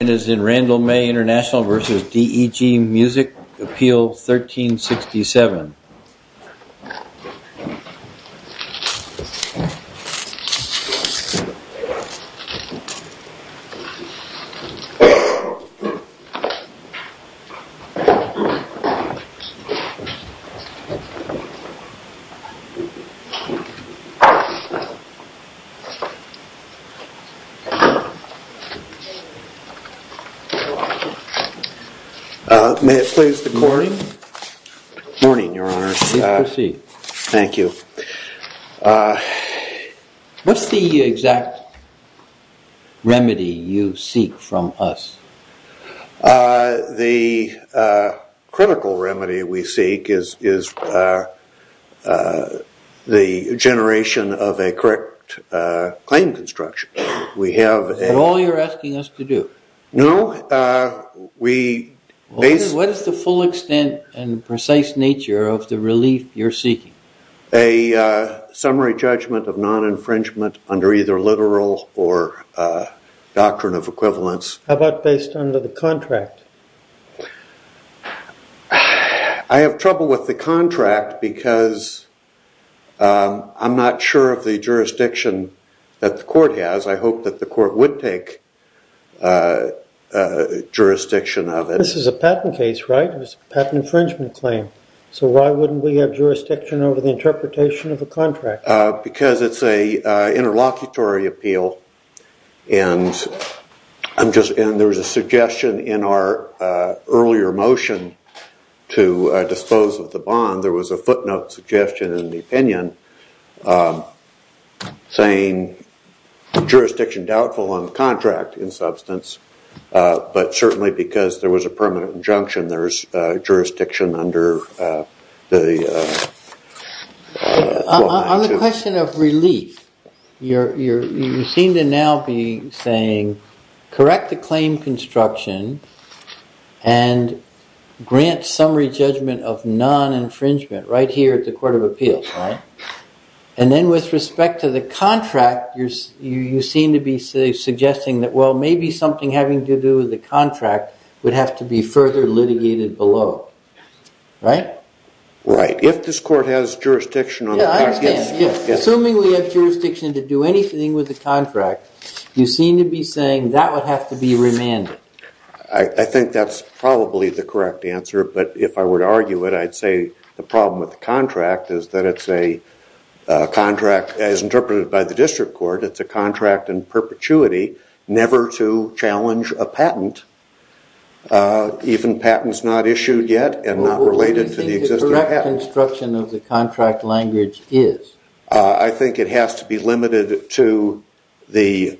This is Randall May Intl v. Deg Music, Appeal 1367 May it please the court. Good morning, your honor. Please proceed. Thank you. What's the exact remedy you seek from us? The critical remedy we seek is the generation of a correct claim construction. Is that all you're asking us to do? No. What is the full extent and precise nature of the relief you're seeking? A summary judgment of non-infringement under either literal or doctrine of equivalence. How about based on the contract? I have trouble with the contract because I'm not sure of the jurisdiction that the court has. I hope that the court would take jurisdiction of it. This is a patent case, right? It was a patent infringement claim. So why wouldn't we have jurisdiction over the interpretation of a contract? Because it's an interlocutory appeal and there was a suggestion in our earlier motion to dispose of the bond. There was a footnote suggestion in the opinion saying jurisdiction doubtful on the contract in substance. But certainly because there was a permanent injunction, there's jurisdiction under the... On the question of relief, you seem to now be saying correct the claim construction and grant summary judgment of non-infringement right here at the court of appeals, right? And then with respect to the contract, you seem to be suggesting that, well, maybe something having to do with the contract would have to be further litigated below, right? Right. If this court has jurisdiction on... Assuming we have jurisdiction to do anything with the contract, you seem to be saying that would have to be remanded. I think that's probably the correct answer. But if I were to argue it, I'd say the problem with the contract is that it's a contract as interpreted by the district court. It's a contract and perpetuity never to challenge a patent. Even patents not issued yet and not related to the existing patent. What do you think the correct construction of the contract language is? I think it has to be limited to the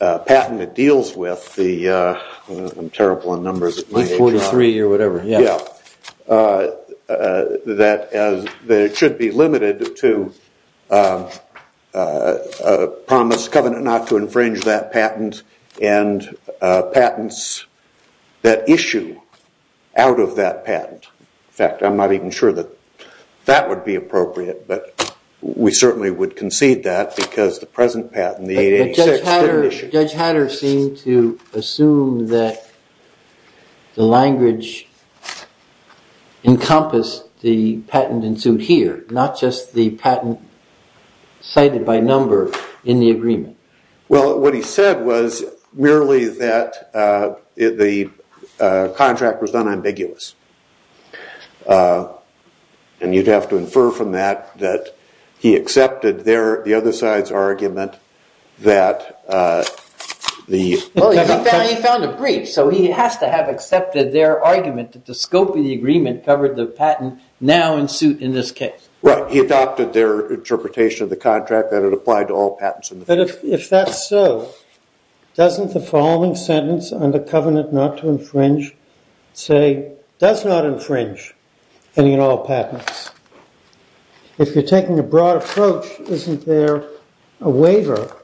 patent it deals with. I'm terrible on numbers. 43 or whatever. Yeah. That it should be limited to a promise covenant not to infringe that patent and patents that issue out of that patent. In fact, I'm not even sure that that would be appropriate, but we certainly would concede that because the present patent, the 886... Judge Hatter seemed to assume that the language encompassed the patent ensued here, not just the patent cited by number in the agreement. Well, what he said was merely that the contract was unambiguous. And you'd have to infer from that that he accepted the other side's argument that the... Well, he found a brief, so he has to have accepted their argument that the scope of the agreement covered the patent now in suit in this case. Right. He adopted their interpretation of the contract that it applied to all patents. But if that's so, doesn't the following sentence on the covenant not to infringe say, does not infringe any and all patents? If you're taking a broad approach, isn't there a waiver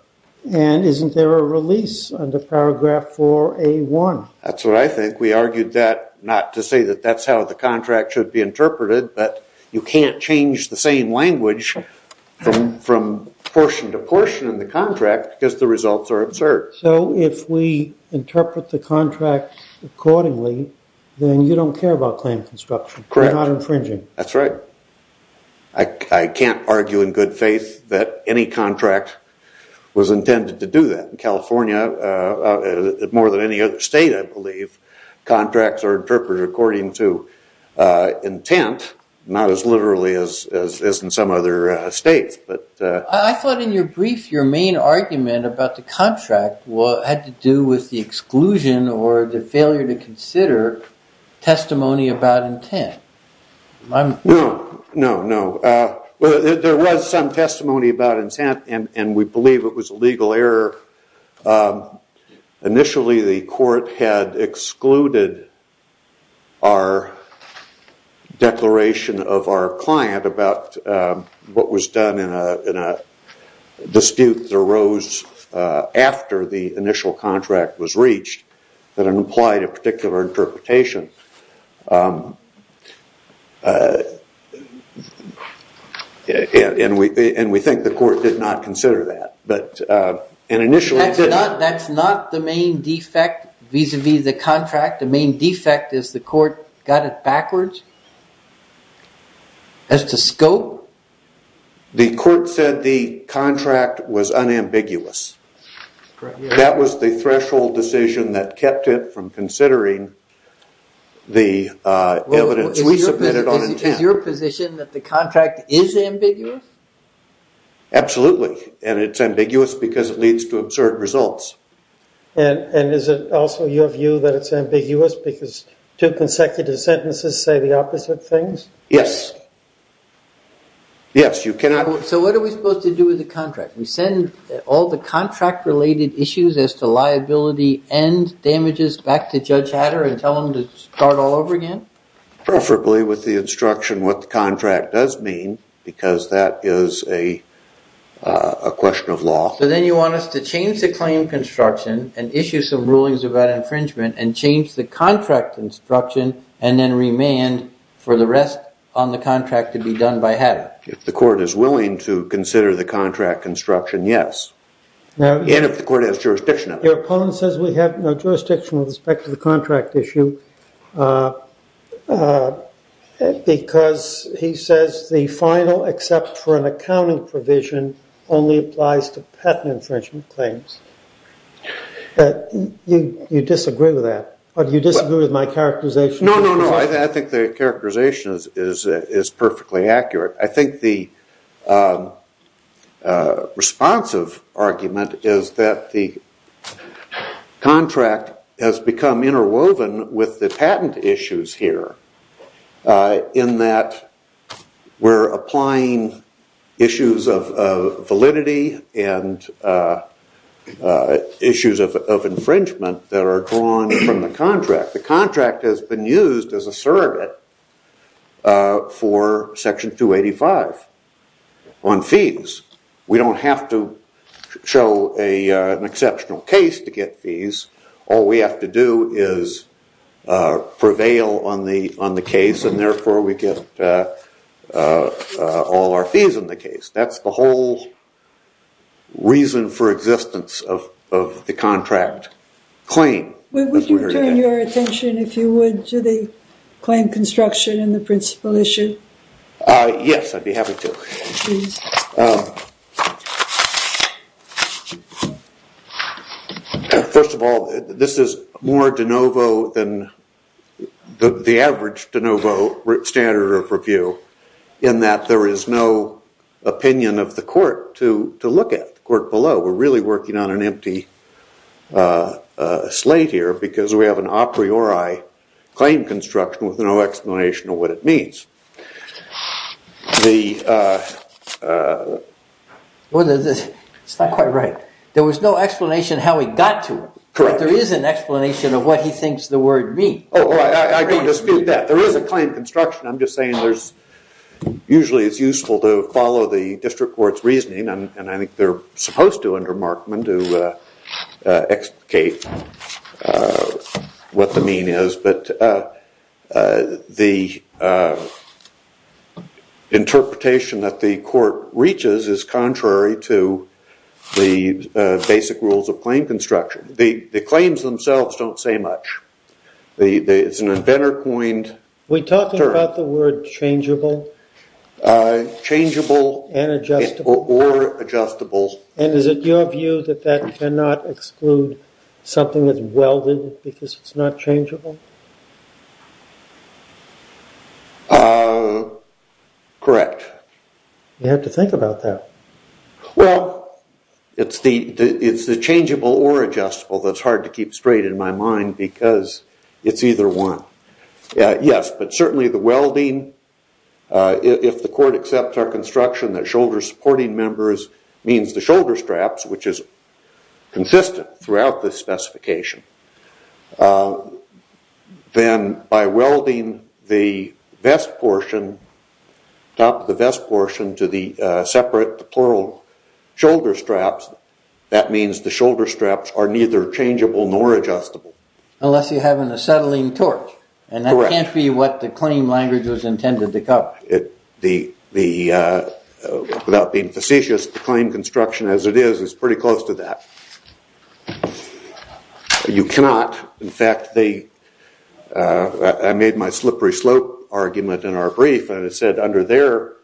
and isn't there a release under paragraph 4A1? That's what I think. We argued that not to say that that's how the contract should be interpreted, but you can't change the same language from portion to portion in the contract because the results are absurd. So if we interpret the contract accordingly, then you don't care about claim construction. Correct. You're not infringing. That's right. I can't argue in good faith that any contract was intended to do that. In California, more than any other state I believe, contracts are interpreted according to intent, not as literally as in some other states. I thought in your brief your main argument about the contract had to do with the exclusion or the failure to consider testimony about intent. No, no, no. There was some testimony about intent and we believe it was a legal error. Initially, the court had excluded our declaration of our client about what was done in a dispute that arose after the initial contract was reached that implied a particular interpretation. And we think the court did not consider that. That's not the main defect vis-a-vis the contract. The main defect is the court got it backwards as to scope. The court said the contract was unambiguous. That was the threshold decision that kept it from considering the evidence we submitted on intent. Is your position that the contract is ambiguous? Absolutely. And it's ambiguous because it leads to absurd results. And is it also your view that it's ambiguous because two consecutive sentences say the opposite things? Yes. Yes, you cannot... So what are we supposed to do with the contract? We send all the contract-related issues as to liability and damages back to Judge Hatter and tell him to start all over again? Preferably with the instruction what the contract does mean because that is a question of law. So then you want us to change the claim construction and issue some rulings about infringement and change the contract instruction and then remand for the rest on the contract to be done by Hatter? If the court is willing to consider the contract construction, yes. And if the court has jurisdiction of it. Your opponent says we have no jurisdiction with respect to the contract issue because he says the final except for an accounting provision only applies to patent infringement claims. You disagree with that? Or do you disagree with my characterization? No, no, no. I think the characterization is perfectly accurate. I think the responsive argument is that the contract has become interwoven with the patent issues here in that we're applying issues of validity and issues of infringement that are drawn from the contract. The contract has been used as a surrogate for Section 285 on fees. We don't have to show an exceptional case to get fees. All we have to do is prevail on the case and therefore we get all our fees in the case. That's the whole reason for existence of the contract claim. Would you turn your attention, if you would, to the claim construction and the principal issue? Yes, I'd be happy to. First of all, this is more de novo than the average de novo standard of review in that there is no opinion of the court to look at, the court below. We're really working on an empty slate here because we have an a priori claim construction with no explanation of what it means. It's not quite right. There was no explanation how he got to it. Correct. But there is an explanation of what he thinks the word means. I don't dispute that. There is a claim construction. Usually it's useful to follow the district court's reasoning and I think they're supposed to under Markman to explicate what the mean is. The interpretation that the court reaches is contrary to the basic rules of claim construction. The claims themselves don't say much. It's an inventor coined term. Are we talking about the word changeable? Changeable or adjustable. And is it your view that that cannot exclude something that's welded because it's not changeable? Correct. You have to think about that. Well, it's the changeable or adjustable that's hard to keep straight in my mind because it's either one. Yes, but certainly the welding, if the court accepts our construction that shoulder supporting members means the shoulder straps, which is consistent throughout the specification, then by welding the top of the vest portion to the separate shoulder straps, that means the shoulder straps are neither changeable nor adjustable. Unless you have an acetylene torch. Correct. And that can't be what the claim language was intended to cover. Without being facetious, the claim construction as it is is pretty close to that. You cannot. In fact, I made my slippery slope argument in our brief and it said under their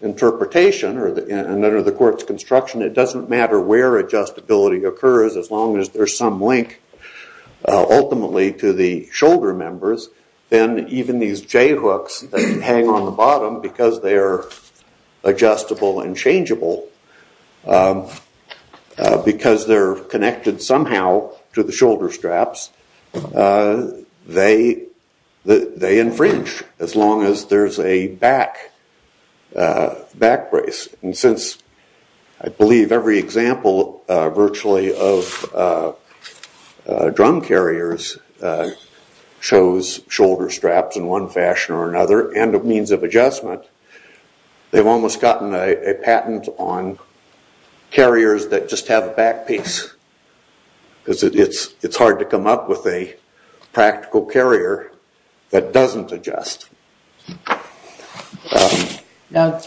interpretation and under the court's construction, it doesn't matter where adjustability occurs as long as there's some link ultimately to the shoulder members. Then even these J hooks that hang on the bottom because they are adjustable and changeable, because they're connected somehow to the shoulder straps, they infringe as long as there's a back brace. I believe every example virtually of drum carriers shows shoulder straps in one fashion or another and a means of adjustment. They've almost gotten a patent on carriers that just have a back piece. It's hard to come up with a practical carrier that doesn't adjust. Now,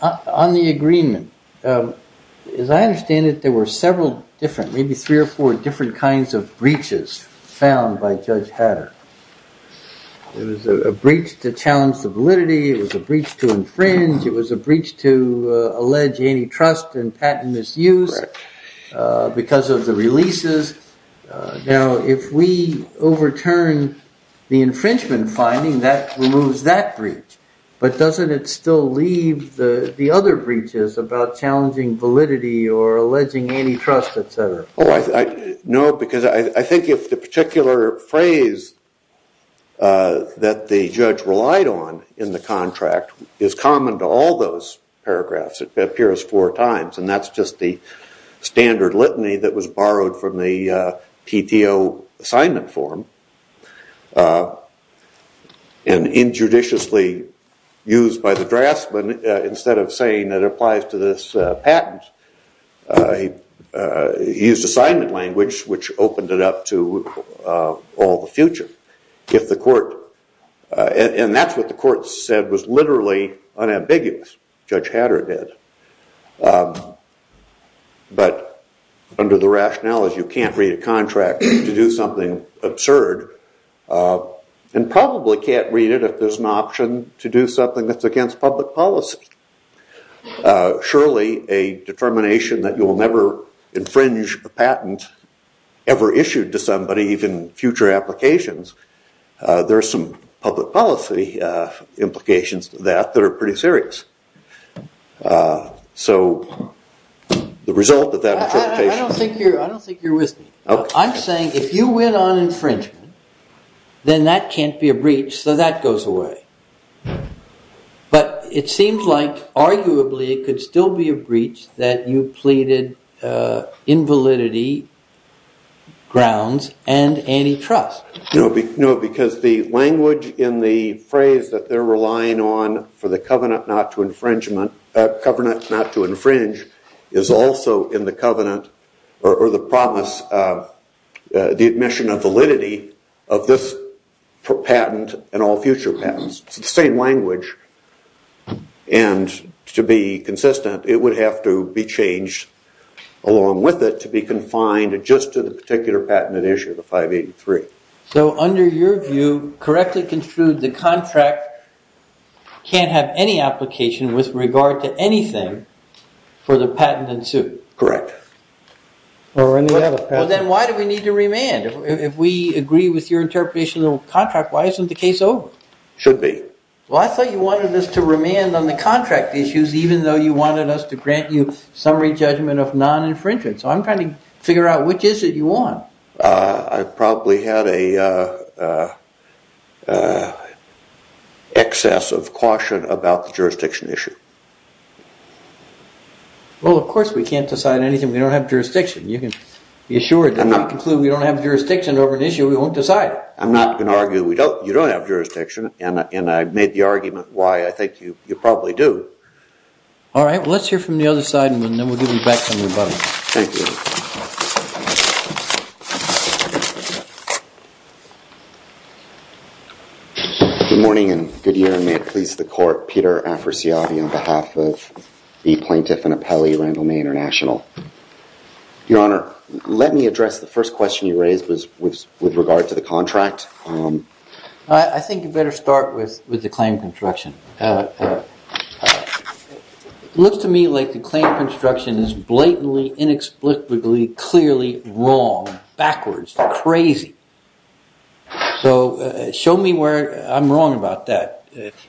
on the agreement, as I understand it, there were several different, maybe three or four different kinds of breaches found by Judge Hatter. It was a breach to challenge the validity. It was a breach to infringe. It was a breach to allege antitrust and patent misuse because of the releases. Now, if we overturn the infringement finding, that removes that breach. But doesn't it still leave the other breaches about challenging validity or alleging antitrust, et cetera? No, because I think if the particular phrase that the judge relied on in the contract is common to all those paragraphs, it appears four times, and that's just the standard litany that was borrowed from the PTO assignment form and injudiciously used by the draftsman instead of saying it applies to this patent. He used assignment language, which opened it up to all the future. And that's what the court said was literally unambiguous. Judge Hatter did. But under the rationale is you can't read a contract to do something absurd and probably can't read it if there's an option to do something that's against public policy. Surely, a determination that you will never infringe a patent ever issued to somebody, even future applications, there are some public policy implications to that that are pretty serious. So the result of that interpretation... I don't think you're with me. I'm saying if you went on infringement, then that can't be a breach, so that goes away. But it seems like arguably it could still be a breach that you pleaded invalidity, grounds, and antitrust. No, because the language in the phrase that they're relying on for the covenant not to infringe is also in the covenant or the promise of the admission of validity of this patent and all future patents. It's the same language. And to be consistent, it would have to be changed along with it to be confined just to the particular patent issue, the 583. So under your view, correctly construed, the contract can't have any application with regard to anything for the patent in suit. Correct. Well, then why do we need to remand? If we agree with your interpretation of the contract, why isn't the case over? Should be. Well, I thought you wanted us to remand on the contract issues, even though you wanted us to grant you summary judgment of non-infringement. So I'm trying to figure out which is it you want. I probably had an excess of caution about the jurisdiction issue. Well, of course we can't decide anything if we don't have jurisdiction. You can be assured that if we conclude we don't have jurisdiction over an issue, we won't decide. I'm not going to argue you don't have jurisdiction, and I've made the argument why I think you probably do. All right, let's hear from the other side, and then we'll give it back to everybody. Thank you. Thank you. Good morning and good year, and may it please the court. Peter Afrasiadi on behalf of the plaintiff and appellee, Randall May International. Your Honor, let me address the first question you raised with regard to the contract. I think you better start with the claim construction. It looks to me like the claim construction is blatantly, inexplicably, clearly wrong, backwards, crazy. So show me where I'm wrong about that.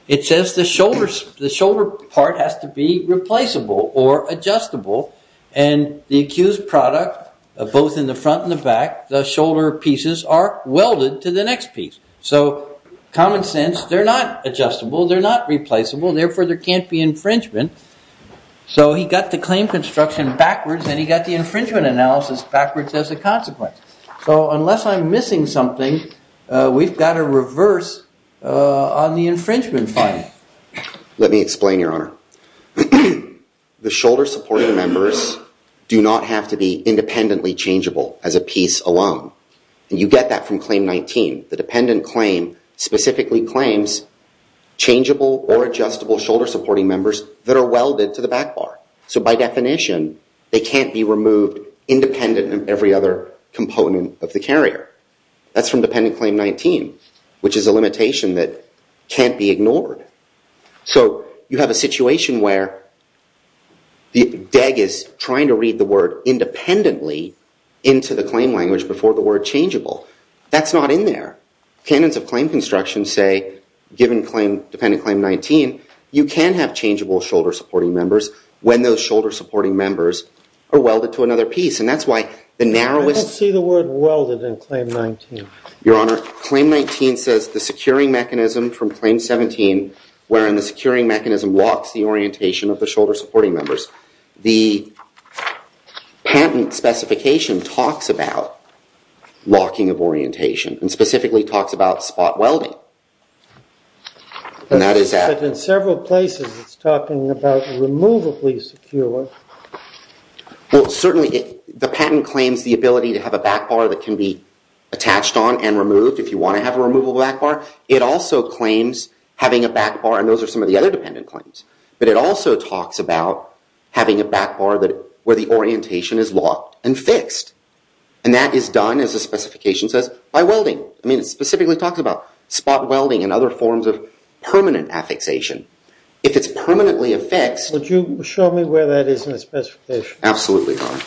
It says the shoulder part has to be replaceable or adjustable, and the accused product, both in the front and the back, the shoulder pieces are welded to the next piece. So common sense, they're not adjustable, they're not replaceable, therefore there can't be infringement. So he got the claim construction backwards, and he got the infringement analysis backwards as a consequence. So unless I'm missing something, we've got to reverse on the infringement finding. Let me explain, Your Honor. The shoulder supporting members do not have to be independently changeable as a piece alone. And you get that from Claim 19. The dependent claim specifically claims changeable or adjustable shoulder supporting members that are welded to the back bar. So by definition, they can't be removed independent of every other component of the carrier. That's from Dependent Claim 19, which is a limitation that can't be ignored. So you have a situation where the DEG is trying to read the word independently into the claim language before the word changeable. That's not in there. Canons of claim construction say, given Dependent Claim 19, you can have changeable shoulder supporting members when those shoulder supporting members are welded to another piece. And that's why the narrowest... I don't see the word welded in Claim 19. Your Honor, Claim 19 says the securing mechanism from Claim 17, wherein the securing mechanism locks the orientation of the shoulder supporting members. The patent specification talks about locking of orientation and specifically talks about spot welding. And that is at... But in several places, it's talking about removably secure. Well, certainly the patent claims the ability to have a back bar that can be attached on and removed if you want to have a removable back bar. It also claims having a back bar, and those are some of the other Dependent Claims. But it also talks about having a back bar where the orientation is locked and fixed. And that is done, as the specification says, by welding. I mean, it specifically talks about spot welding and other forms of permanent affixation. If it's permanently affixed... Would you show me where that is in the specification? Absolutely, Your Honor.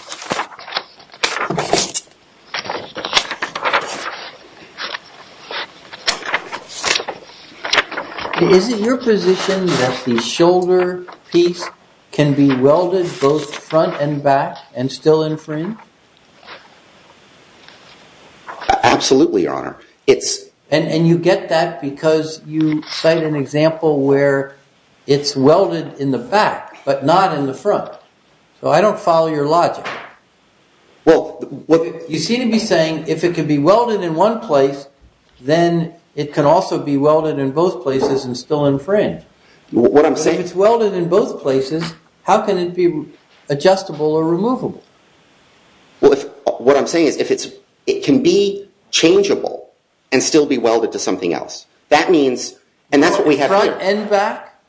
Is it your position that the shoulder piece can be welded both front and back and still in frame? Absolutely, Your Honor. It's... And you get that because you cite an example where it's welded in the back, but not in the front. So I don't follow your logic. Well... You seem to be saying if it can be welded in one place, then it can also be welded in both places and still in frame. What I'm saying... If it's welded in both places, how can it be adjustable or removable? Well, if... What I'm saying is if it's... It can be changeable and still be welded to something else. That means... And that's what we have here. Front and back?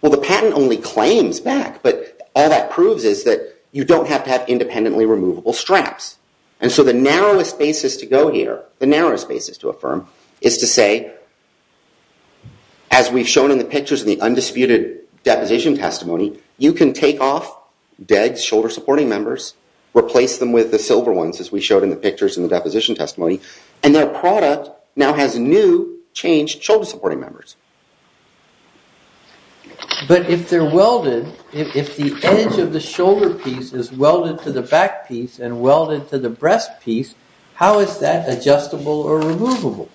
Well, the patent only claims back. But all that proves is that you don't have to have independently removable straps. And so the narrowest basis to go here, the narrowest basis to affirm, is to say, as we've shown in the pictures in the undisputed deposition testimony, you can take off dead shoulder-supporting members, replace them with the silver ones, as we showed in the pictures in the deposition testimony, and their product now has new, changed shoulder-supporting members. But if they're welded... If the edge of the shoulder piece is welded to the back piece and welded to the breast piece, how is that adjustable or removable?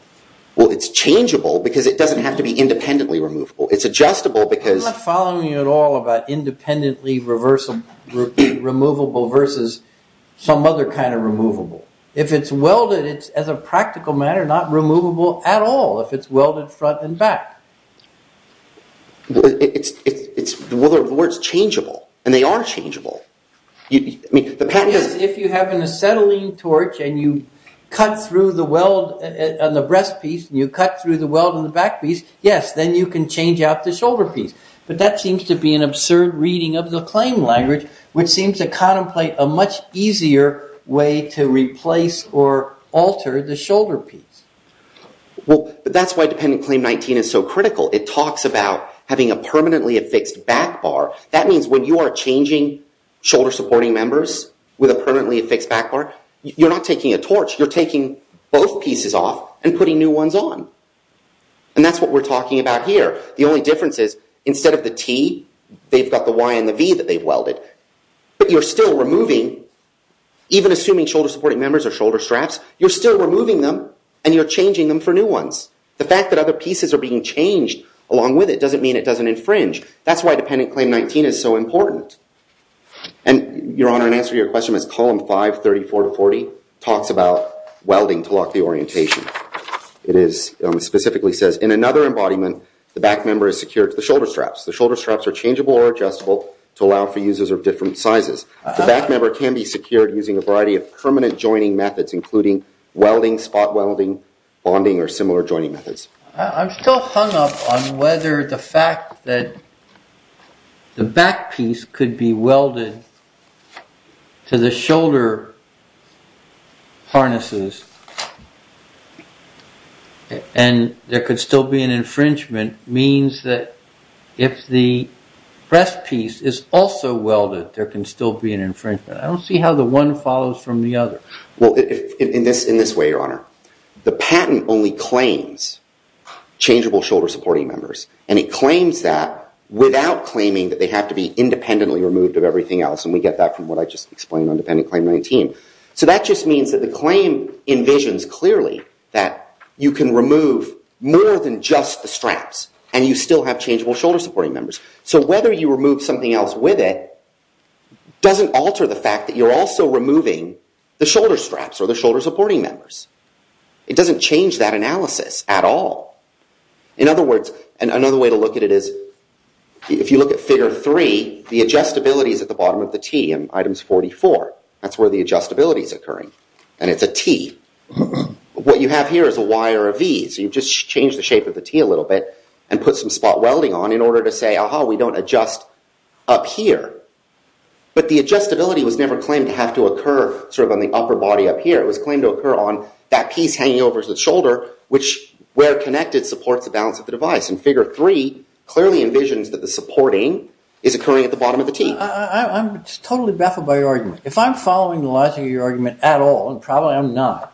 Well, it's changeable because it doesn't have to be independently removable. It's adjustable because... It's not independently removable versus some other kind of removable. If it's welded, it's, as a practical matter, not removable at all if it's welded front and back. Well, the word's changeable, and they are changeable. If you have an acetylene torch and you cut through the weld on the breast piece and you cut through the weld on the back piece, yes, then you can change out the shoulder piece. But that seems to be an absurd reading of the claim language, which seems to contemplate a much easier way to replace or alter the shoulder piece. Well, that's why Dependent Claim 19 is so critical. It talks about having a permanently affixed back bar. That means when you are changing shoulder-supporting members with a permanently affixed back bar, you're not taking a torch. You're taking both pieces off and putting new ones on. And that's what we're talking about here. The only difference is, instead of the T, they've got the Y and the V that they've welded. But you're still removing, even assuming shoulder-supporting members are shoulder straps, you're still removing them, and you're changing them for new ones. The fact that other pieces are being changed along with it doesn't mean it doesn't infringe. That's why Dependent Claim 19 is so important. And, Your Honor, in answer to your question, Column 5, 34 to 40 talks about welding to lock the orientation. It specifically says, In another embodiment, the back member is secured to the shoulder straps. The shoulder straps are changeable or adjustable to allow for users of different sizes. The back member can be secured using a variety of permanent joining methods, including welding, spot welding, bonding, or similar joining methods. I'm still hung up on whether the fact that the back piece could be welded to the shoulder harnesses and there could still be an infringement means that if the breast piece is also welded, there can still be an infringement. I don't see how the one follows from the other. Well, in this way, Your Honor, the patent only claims changeable shoulder supporting members, and it claims that without claiming that they have to be independently removed of everything else. And we get that from what I just explained on Dependent Claim 19. So that just means that the claim envisions clearly that you can remove more than just the straps, and you still have changeable shoulder supporting members. So whether you remove something else with it doesn't alter the fact that you're also removing the shoulder straps or the shoulder supporting members. It doesn't change that analysis at all. In other words, and another way to look at it is if you look at Figure 3, the adjustability is at the bottom of the T in Items 44. That's where the adjustability is occurring, and it's a T. What you have here is a Y or a V, so you just change the shape of the T a little bit and put some spot welding on in order to say, aha, we don't adjust up here. But the adjustability was never claimed to have to occur sort of on the upper body up here. It was claimed to occur on that piece hanging over the shoulder, which where connected supports the balance of the device. And Figure 3 clearly envisions that the supporting is occurring at the bottom of the T. I'm totally baffled by your argument. If I'm following the logic of your argument at all, and probably I'm not,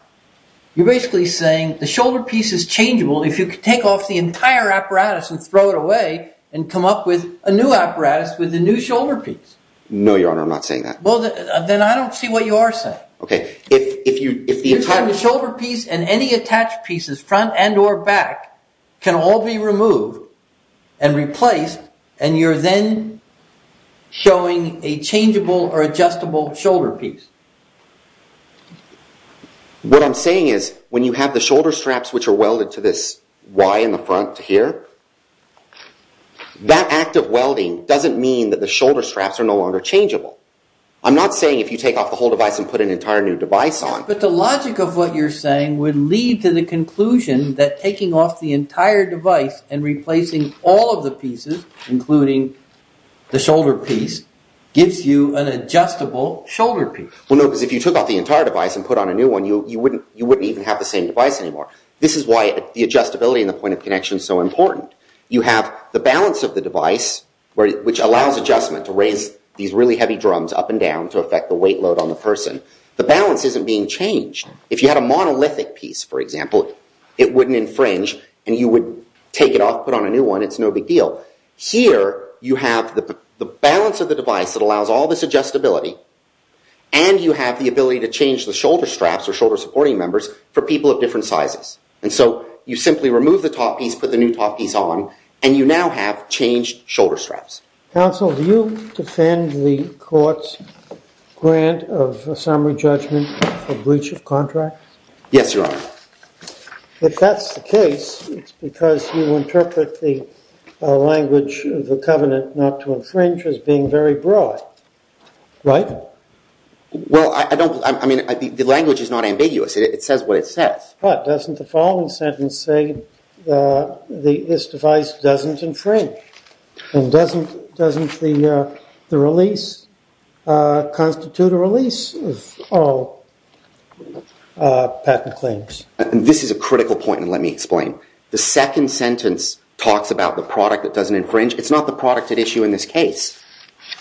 you're basically saying the shoulder piece is changeable if you could take off the entire apparatus and throw it away and come up with a new apparatus with a new shoulder piece. No, Your Honor, I'm not saying that. Well, then I don't see what you are saying. Okay, if the entire shoulder piece and any attached pieces, front and or back, can all be removed and replaced, and you're then showing a changeable or adjustable shoulder piece. What I'm saying is, when you have the shoulder straps, which are welded to this Y in the front here, that act of welding doesn't mean that the shoulder straps are no longer changeable. I'm not saying if you take off the whole device and put an entire new device on. But the logic of what you're saying would lead to the conclusion that taking off the entire device and replacing all of the pieces, including the shoulder piece, gives you an adjustable shoulder piece. Well, no, because if you took off the entire device and put on a new one, you wouldn't even have the same device anymore. This is why the adjustability and the point of connection is so important. You have the balance of the device, which allows adjustment to raise these really heavy drums up and down to affect the weight load on the person. The balance isn't being changed. If you had a monolithic piece, for example, it wouldn't infringe, and you would take it off, put on a new one, it's no big deal. Here, you have the balance of the device that allows all this adjustability, and you have the ability to change the shoulder straps or shoulder supporting members for people of different sizes. And so you simply remove the top piece, put the new top piece on, and you now have changed shoulder straps. Counsel, do you defend the court's grant of a summary judgment for breach of contract? Yes, Your Honor. If that's the case, it's because you interpret the language of the covenant not to infringe as being very broad, right? Well, I mean, the language is not ambiguous. It says what it says. But doesn't the following sentence say this device doesn't infringe? And doesn't the release constitute a release of all patent claims? This is a critical point, and let me explain. The second sentence talks about the product that doesn't infringe. It's not the product at issue in this case.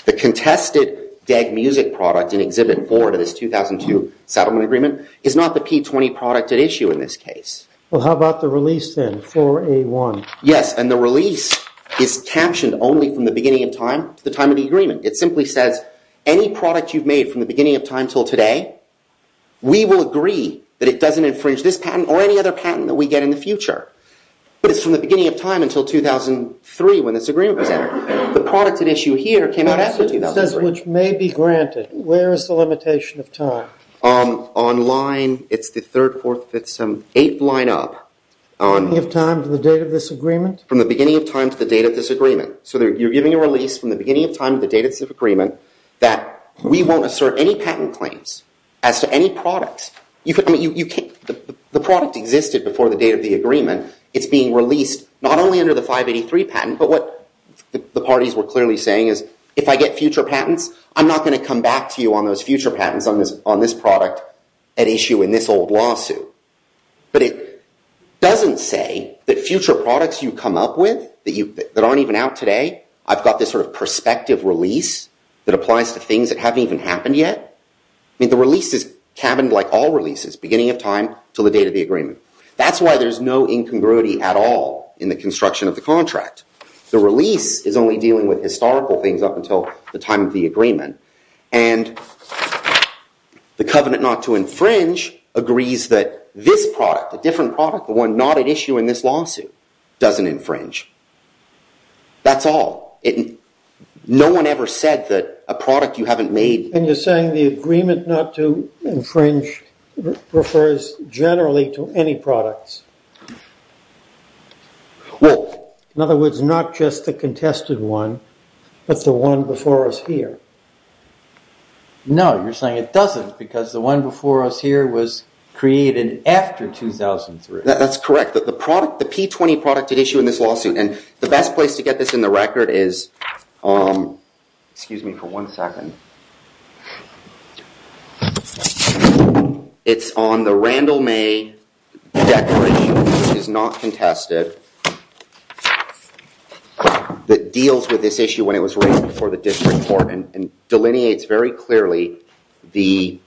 The contested DAG Music product in Exhibit 4 to this 2002 settlement agreement is not the P-20 product at issue in this case. Well, how about the release then, 4A1? Yes, and the release is captioned only from the beginning of time to the time of the agreement. It simply says any product you've made from the beginning of time until today, we will agree that it doesn't infringe this patent or any other patent that we get in the future. But it's from the beginning of time until 2003 when this agreement was entered. The product at issue here came out in 2003. That sentence says which may be granted. Where is the limitation of time? On line, it's the 3rd, 4th, 5th, 7th, 8th line up. From the beginning of time to the date of this agreement? From the beginning of time to the date of this agreement. So you're giving a release from the beginning of time to the date of this agreement that we won't assert any patent claims as to any product. The product existed before the date of the agreement. It's being released not only under the 583 patent, but what the parties were clearly saying is if I get future patents, I'm not going to come back to you on those future patents on this product at issue in this old lawsuit. But it doesn't say that future products you come up with that aren't even out today, I've got this sort of prospective release that applies to things that haven't even happened yet. The release is cabined like all releases, beginning of time until the date of the agreement. That's why there's no incongruity at all in the construction of the contract. The release is only dealing with historical things up until the time of the agreement. And the covenant not to infringe agrees that this product, a different product, the one not at issue in this lawsuit, doesn't infringe. That's all. No one ever said that a product you haven't made... And you're saying the agreement not to infringe refers generally to any products. In other words, not just the contested one, but the one before us here. No, you're saying it doesn't because the one before us here was created after 2003. That's correct. The product, the P20 product at issue in this lawsuit, and the best place to get this in the record is... Excuse me for one second. It's on the Randall May declaration, which is not contested, that deals with this issue when it was written before the district court and delineates very clearly the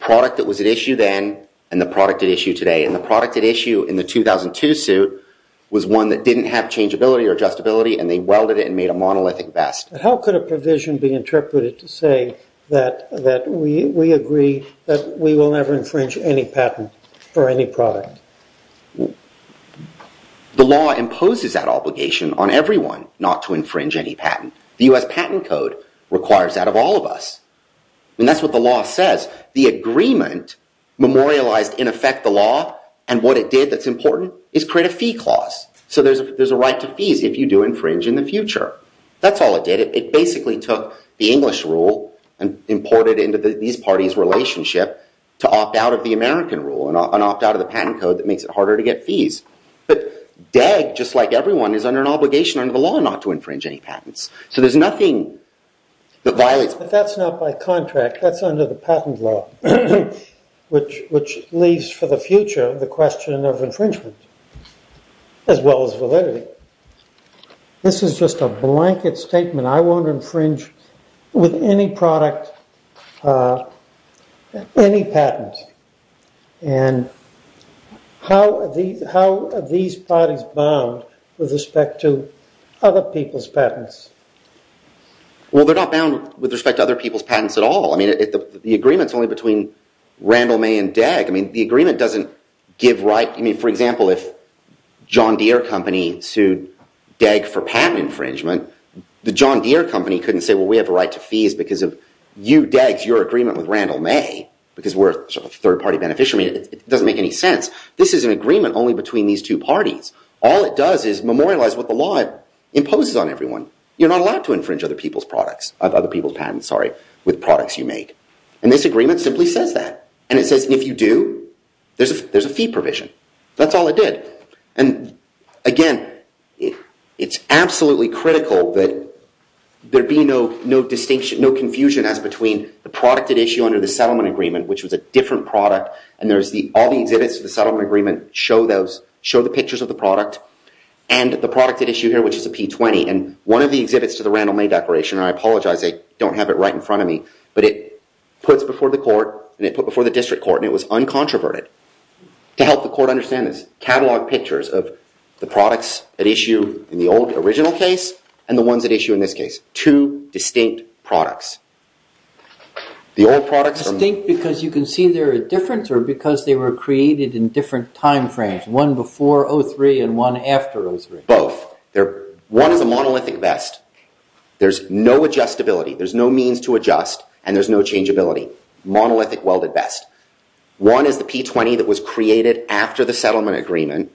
product that was at issue then and the product at issue today. And the product at issue in the 2002 suit was one that didn't have changeability or adjustability and they welded it and made a monolithic vest. How could a provision be interpreted to say that we agree that we will never infringe any patent for any product? The law imposes that obligation on everyone not to infringe any patent. The U.S. Patent Code requires that of all of us. And that's what the law says. The agreement memorialized, in effect, the law, and what it did that's important is create a fee clause. So there's a right to fees if you do infringe in the future. That's all it did. It basically took the English rule and imported it into these parties' relationship to opt out of the American rule and opt out of the patent code that makes it harder to get fees. But DEG, just like everyone, is under an obligation under the law not to infringe any patents. So there's nothing that violates... But that's not by contract. That's under the patent law, which leaves for the future the question of infringement as well as validity. This is just a blanket statement. I won't infringe with any product any patent. And how are these parties bound with respect to other people's patents? Well, they're not bound with respect to other people's patents at all. I mean, the agreement's only between Randall, May, and DEG. I mean, the agreement doesn't give right... I mean, for example, if John Deere Company sued DEG for patent infringement, the John Deere Company couldn't say, well, we have a right to fees because of you, DEG, your agreement with Randall, May, because we're a third-party beneficiary. It doesn't make any sense. This is an agreement only between these two parties. All it does is memorialize what the law imposes on everyone. You're not allowed to infringe other people's patents with products you make. And this agreement simply says that. And it says if you do, there's a fee provision. That's all it did. And again, it's absolutely critical that there be no confusion as between the product at issue under the settlement agreement, which was a different product, and all the exhibits of the settlement agreement show the pictures of the product and the product at issue here, which is a P-20. And one of the exhibits to the Randall, May declaration, and I apologize, they don't have it right in front of me, but it puts before the court, and it put before the district court, and it was uncontroverted to help the court understand this, catalog pictures of the products at issue in the old original case and the ones at issue in this case, two distinct products. The old products are... Distinct because you can see they're different or because they were created in different time frames, one before 03 and one after 03? Both. One is a monolithic vest. There's no adjustability. There's no means to adjust, and there's no changeability. Monolithic welded vest. One is the P-20 that was created after the settlement agreement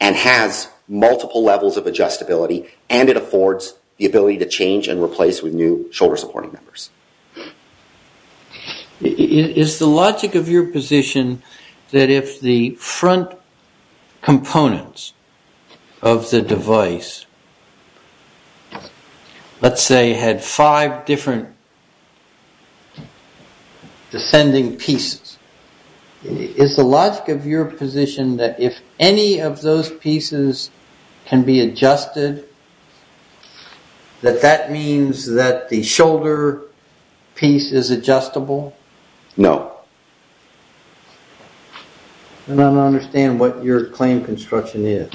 and has multiple levels of adjustability, and it affords the ability to change and replace with new shoulder-supporting members. Is the logic of your position that if the front components of the device, let's say, had five different descending pieces, is the logic of your position that if any of those pieces can be adjusted, that that means that the shoulder piece is adjustable? No. I don't understand what your claim construction is.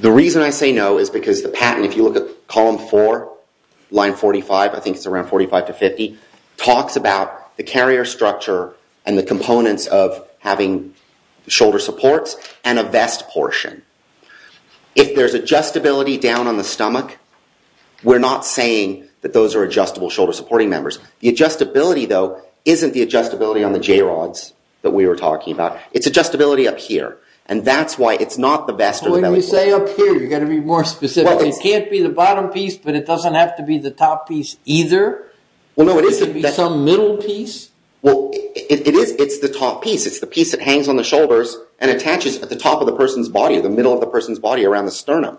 The reason I say no is because the patent, if you look at column four, line 45, I think it's around 45 to 50, talks about the carrier structure and the components of having shoulder supports and a vest portion. If there's adjustability down on the stomach, we're not saying that those are adjustable shoulder-supporting members. The adjustability, though, isn't the adjustability on the J-rods that we were talking about. It's adjustability up here, and that's why it's not the vest or the belly button. When you say up here, you've got to be more specific. It can't be the bottom piece, but it doesn't have to be the top piece either? Well, no, it isn't. It could be some middle piece? Well, it is. It's the top piece. It's the piece that hangs on the shoulders and attaches at the top of the person's body, the middle of the person's body around the sternum.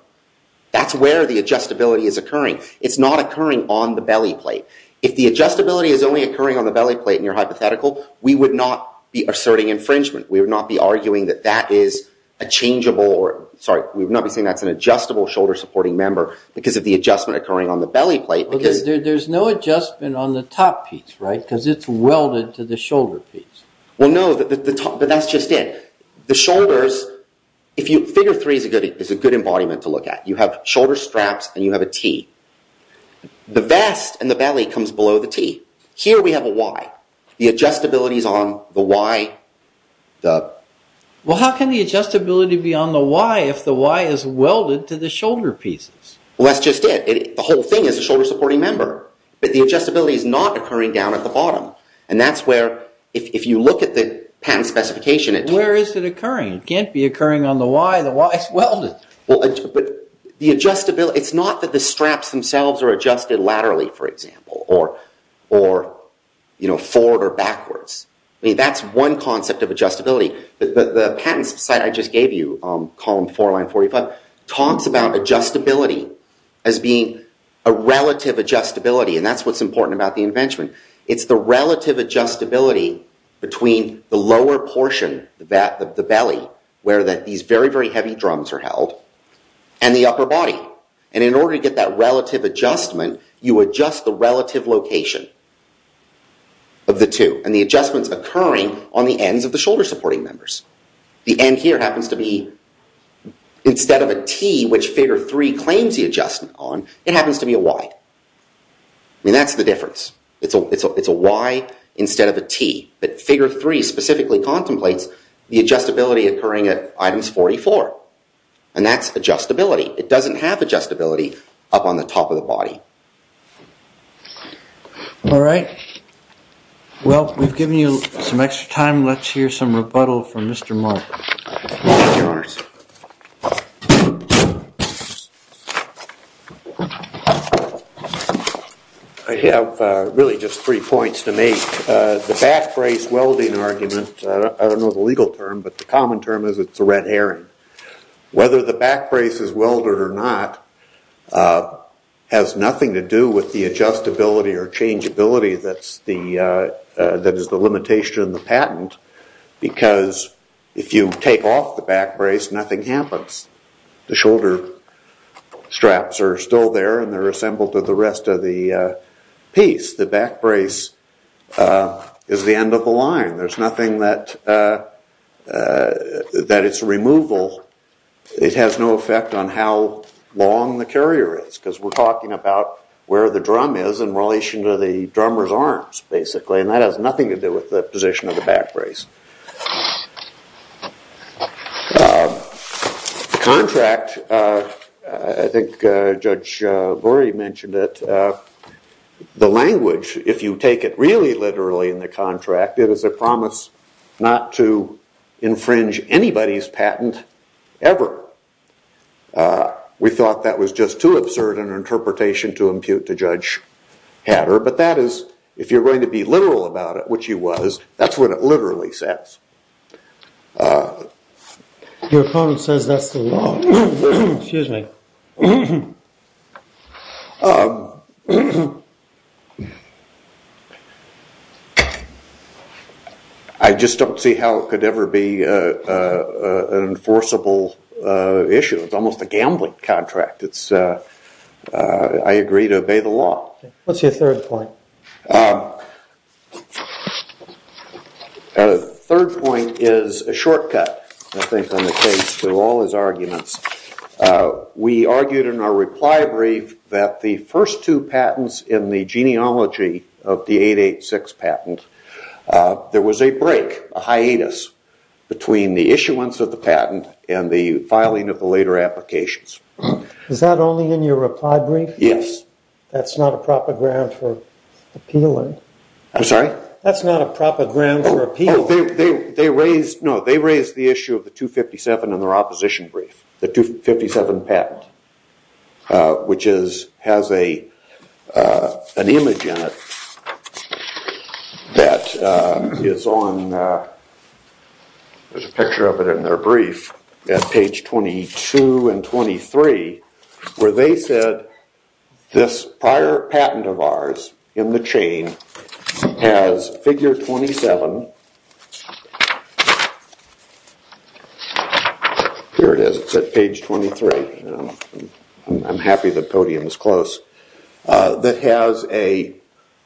That's where the adjustability is occurring. It's not occurring on the belly plate. If the adjustability is only occurring on the belly plate in your hypothetical, we would not be asserting infringement. We would not be arguing that that is a changeable, or sorry, we would not be saying that's an adjustable shoulder-supporting member because of the adjustment occurring on the belly plate. There's no adjustment on the top piece, right? Because it's welded to the shoulder piece. Well, no, but that's just it. The shoulders, figure three is a good embodiment to look at. You have shoulder straps and you have a T. The vest and the belly comes below the T. Here we have a Y. The adjustability is on the Y. Well, how can the adjustability be on the Y if the Y is welded to the shoulder pieces? Well, that's just it. The whole thing is a shoulder-supporting member, but the adjustability is not occurring down at the bottom, and that's where, if you look at the patent specification, it's... Where is it occurring? It can't be occurring on the Y. The Y is welded. Well, but the adjustability, it's not that the straps themselves are adjusted laterally, for example, or forward or backwards. I mean, that's one concept of adjustability. The patent site I just gave you, column 4, line 45, talks about adjustability as being a relative adjustability, and that's what's important about the invention. It's the relative adjustability between the lower portion of the belly, where these very, very heavy drums are held, and the upper body. And in order to get that relative adjustment, you adjust the relative location of the two, and the adjustment's occurring on the ends of the shoulder-supporting members. The end here happens to be, instead of a T, which figure 3 claims the adjustment on, it happens to be a Y. I mean, that's the difference. It's a Y instead of a T. But figure 3 specifically contemplates the adjustability occurring at items 44, and that's adjustability. It doesn't have adjustability up on the top of the body. All right. Well, we've given you some extra time. Let's hear some rebuttal from Mr. Mark. Mark, you're on. I have really just three points to make. The back brace welding argument, I don't know the legal term, but the common term is it's a red herring. Whether the back brace is welded or not has nothing to do with the adjustability or changeability that is the limitation of the patent, because if you take off the back brace, nothing happens. The shoulder straps are still there, and they're assembled to the rest of the piece. The back brace is the end of the line. There's nothing that its removal, it has no effect on how long the carrier is, because we're talking about where the drum is in relation to the drummer's arms, basically, and that has nothing to do with the position of the back brace. The contract, I think Judge Gorey mentioned it, the language, if you take it really literally in the contract, it is a promise not to infringe anybody's patent ever. We thought that was just too absurd an interpretation to impute to Judge Hatter, but that is, if you're going to be literal about it, which you was, that's what it literally says. Your opponent says that's the law. I just don't see how it could ever be an enforceable issue. It's almost a gambling contract. I agree to obey the law. What's your third point? The third point is a shortcut, I think, on the case to all his arguments. We argued in our reply brief that the first two patents in the genealogy of the 886 patent, there was a break, a hiatus, between the issuance of the patent and the filing of the later applications. Is that only in your reply brief? Yes. That's not a proper ground for appealing. I'm sorry? That's not a proper ground for appealing. No, they raised the issue of the 257 in their opposition brief, the 257 patent, which has an image in it that is on, there's a picture of it in their brief, at page 22 and 23, where they said this prior patent of ours in the chain has figure 27. Here it is. It's at page 23. I'm happy the podium is close. It has a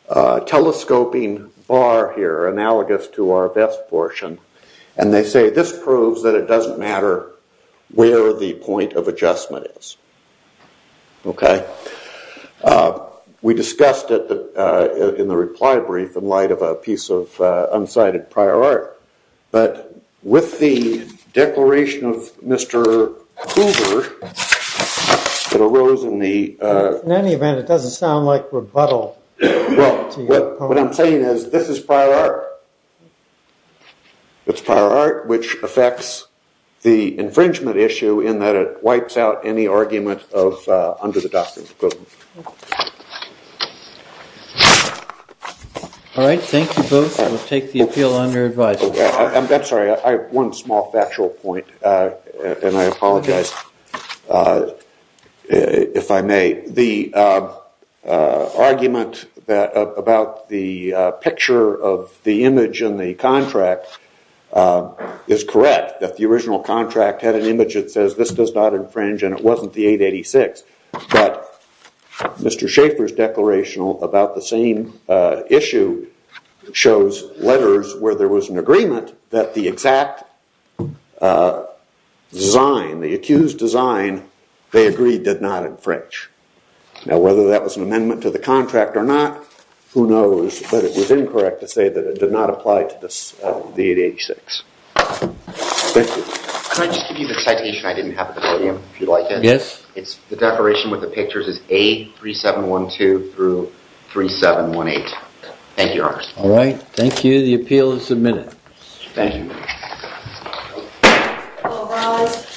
telescoping bar here, analogous to our best portion, and they say this proves that it doesn't matter where the point of adjustment is. Okay? We discussed it in the reply brief in light of a piece of unsighted prior art, but with the declaration of Mr. Hoover, it arose in the... In any event, it doesn't sound like rebuttal. What I'm saying is this is prior art. It's prior art, which affects the infringement issue in that it wipes out any argument under the doctrine. All right, thank you both. We'll take the appeal on your advice. I'm sorry. I have one small factual point, and I apologize, if I may. The argument about the picture of the image in the contract is correct, that the original contract had an image that says this does not infringe, and it wasn't the 886, but Mr. Schaefer's declaration about the same issue shows letters where there was an agreement that the exact design, the accused design, they agreed did not infringe. Now, whether that was an amendment to the contract or not, who knows, but it was incorrect to say that it did not apply to the 886. Thank you. Can I just give you the citation I didn't have at the podium, if you'd like it? Yes. The declaration with the pictures is A3712 through 3718. Thank you, Your Honor. All right, thank you. The appeal is submitted. Thank you. All rise.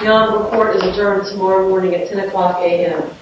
The honorable court is adjourned tomorrow morning at 10 o'clock a.m.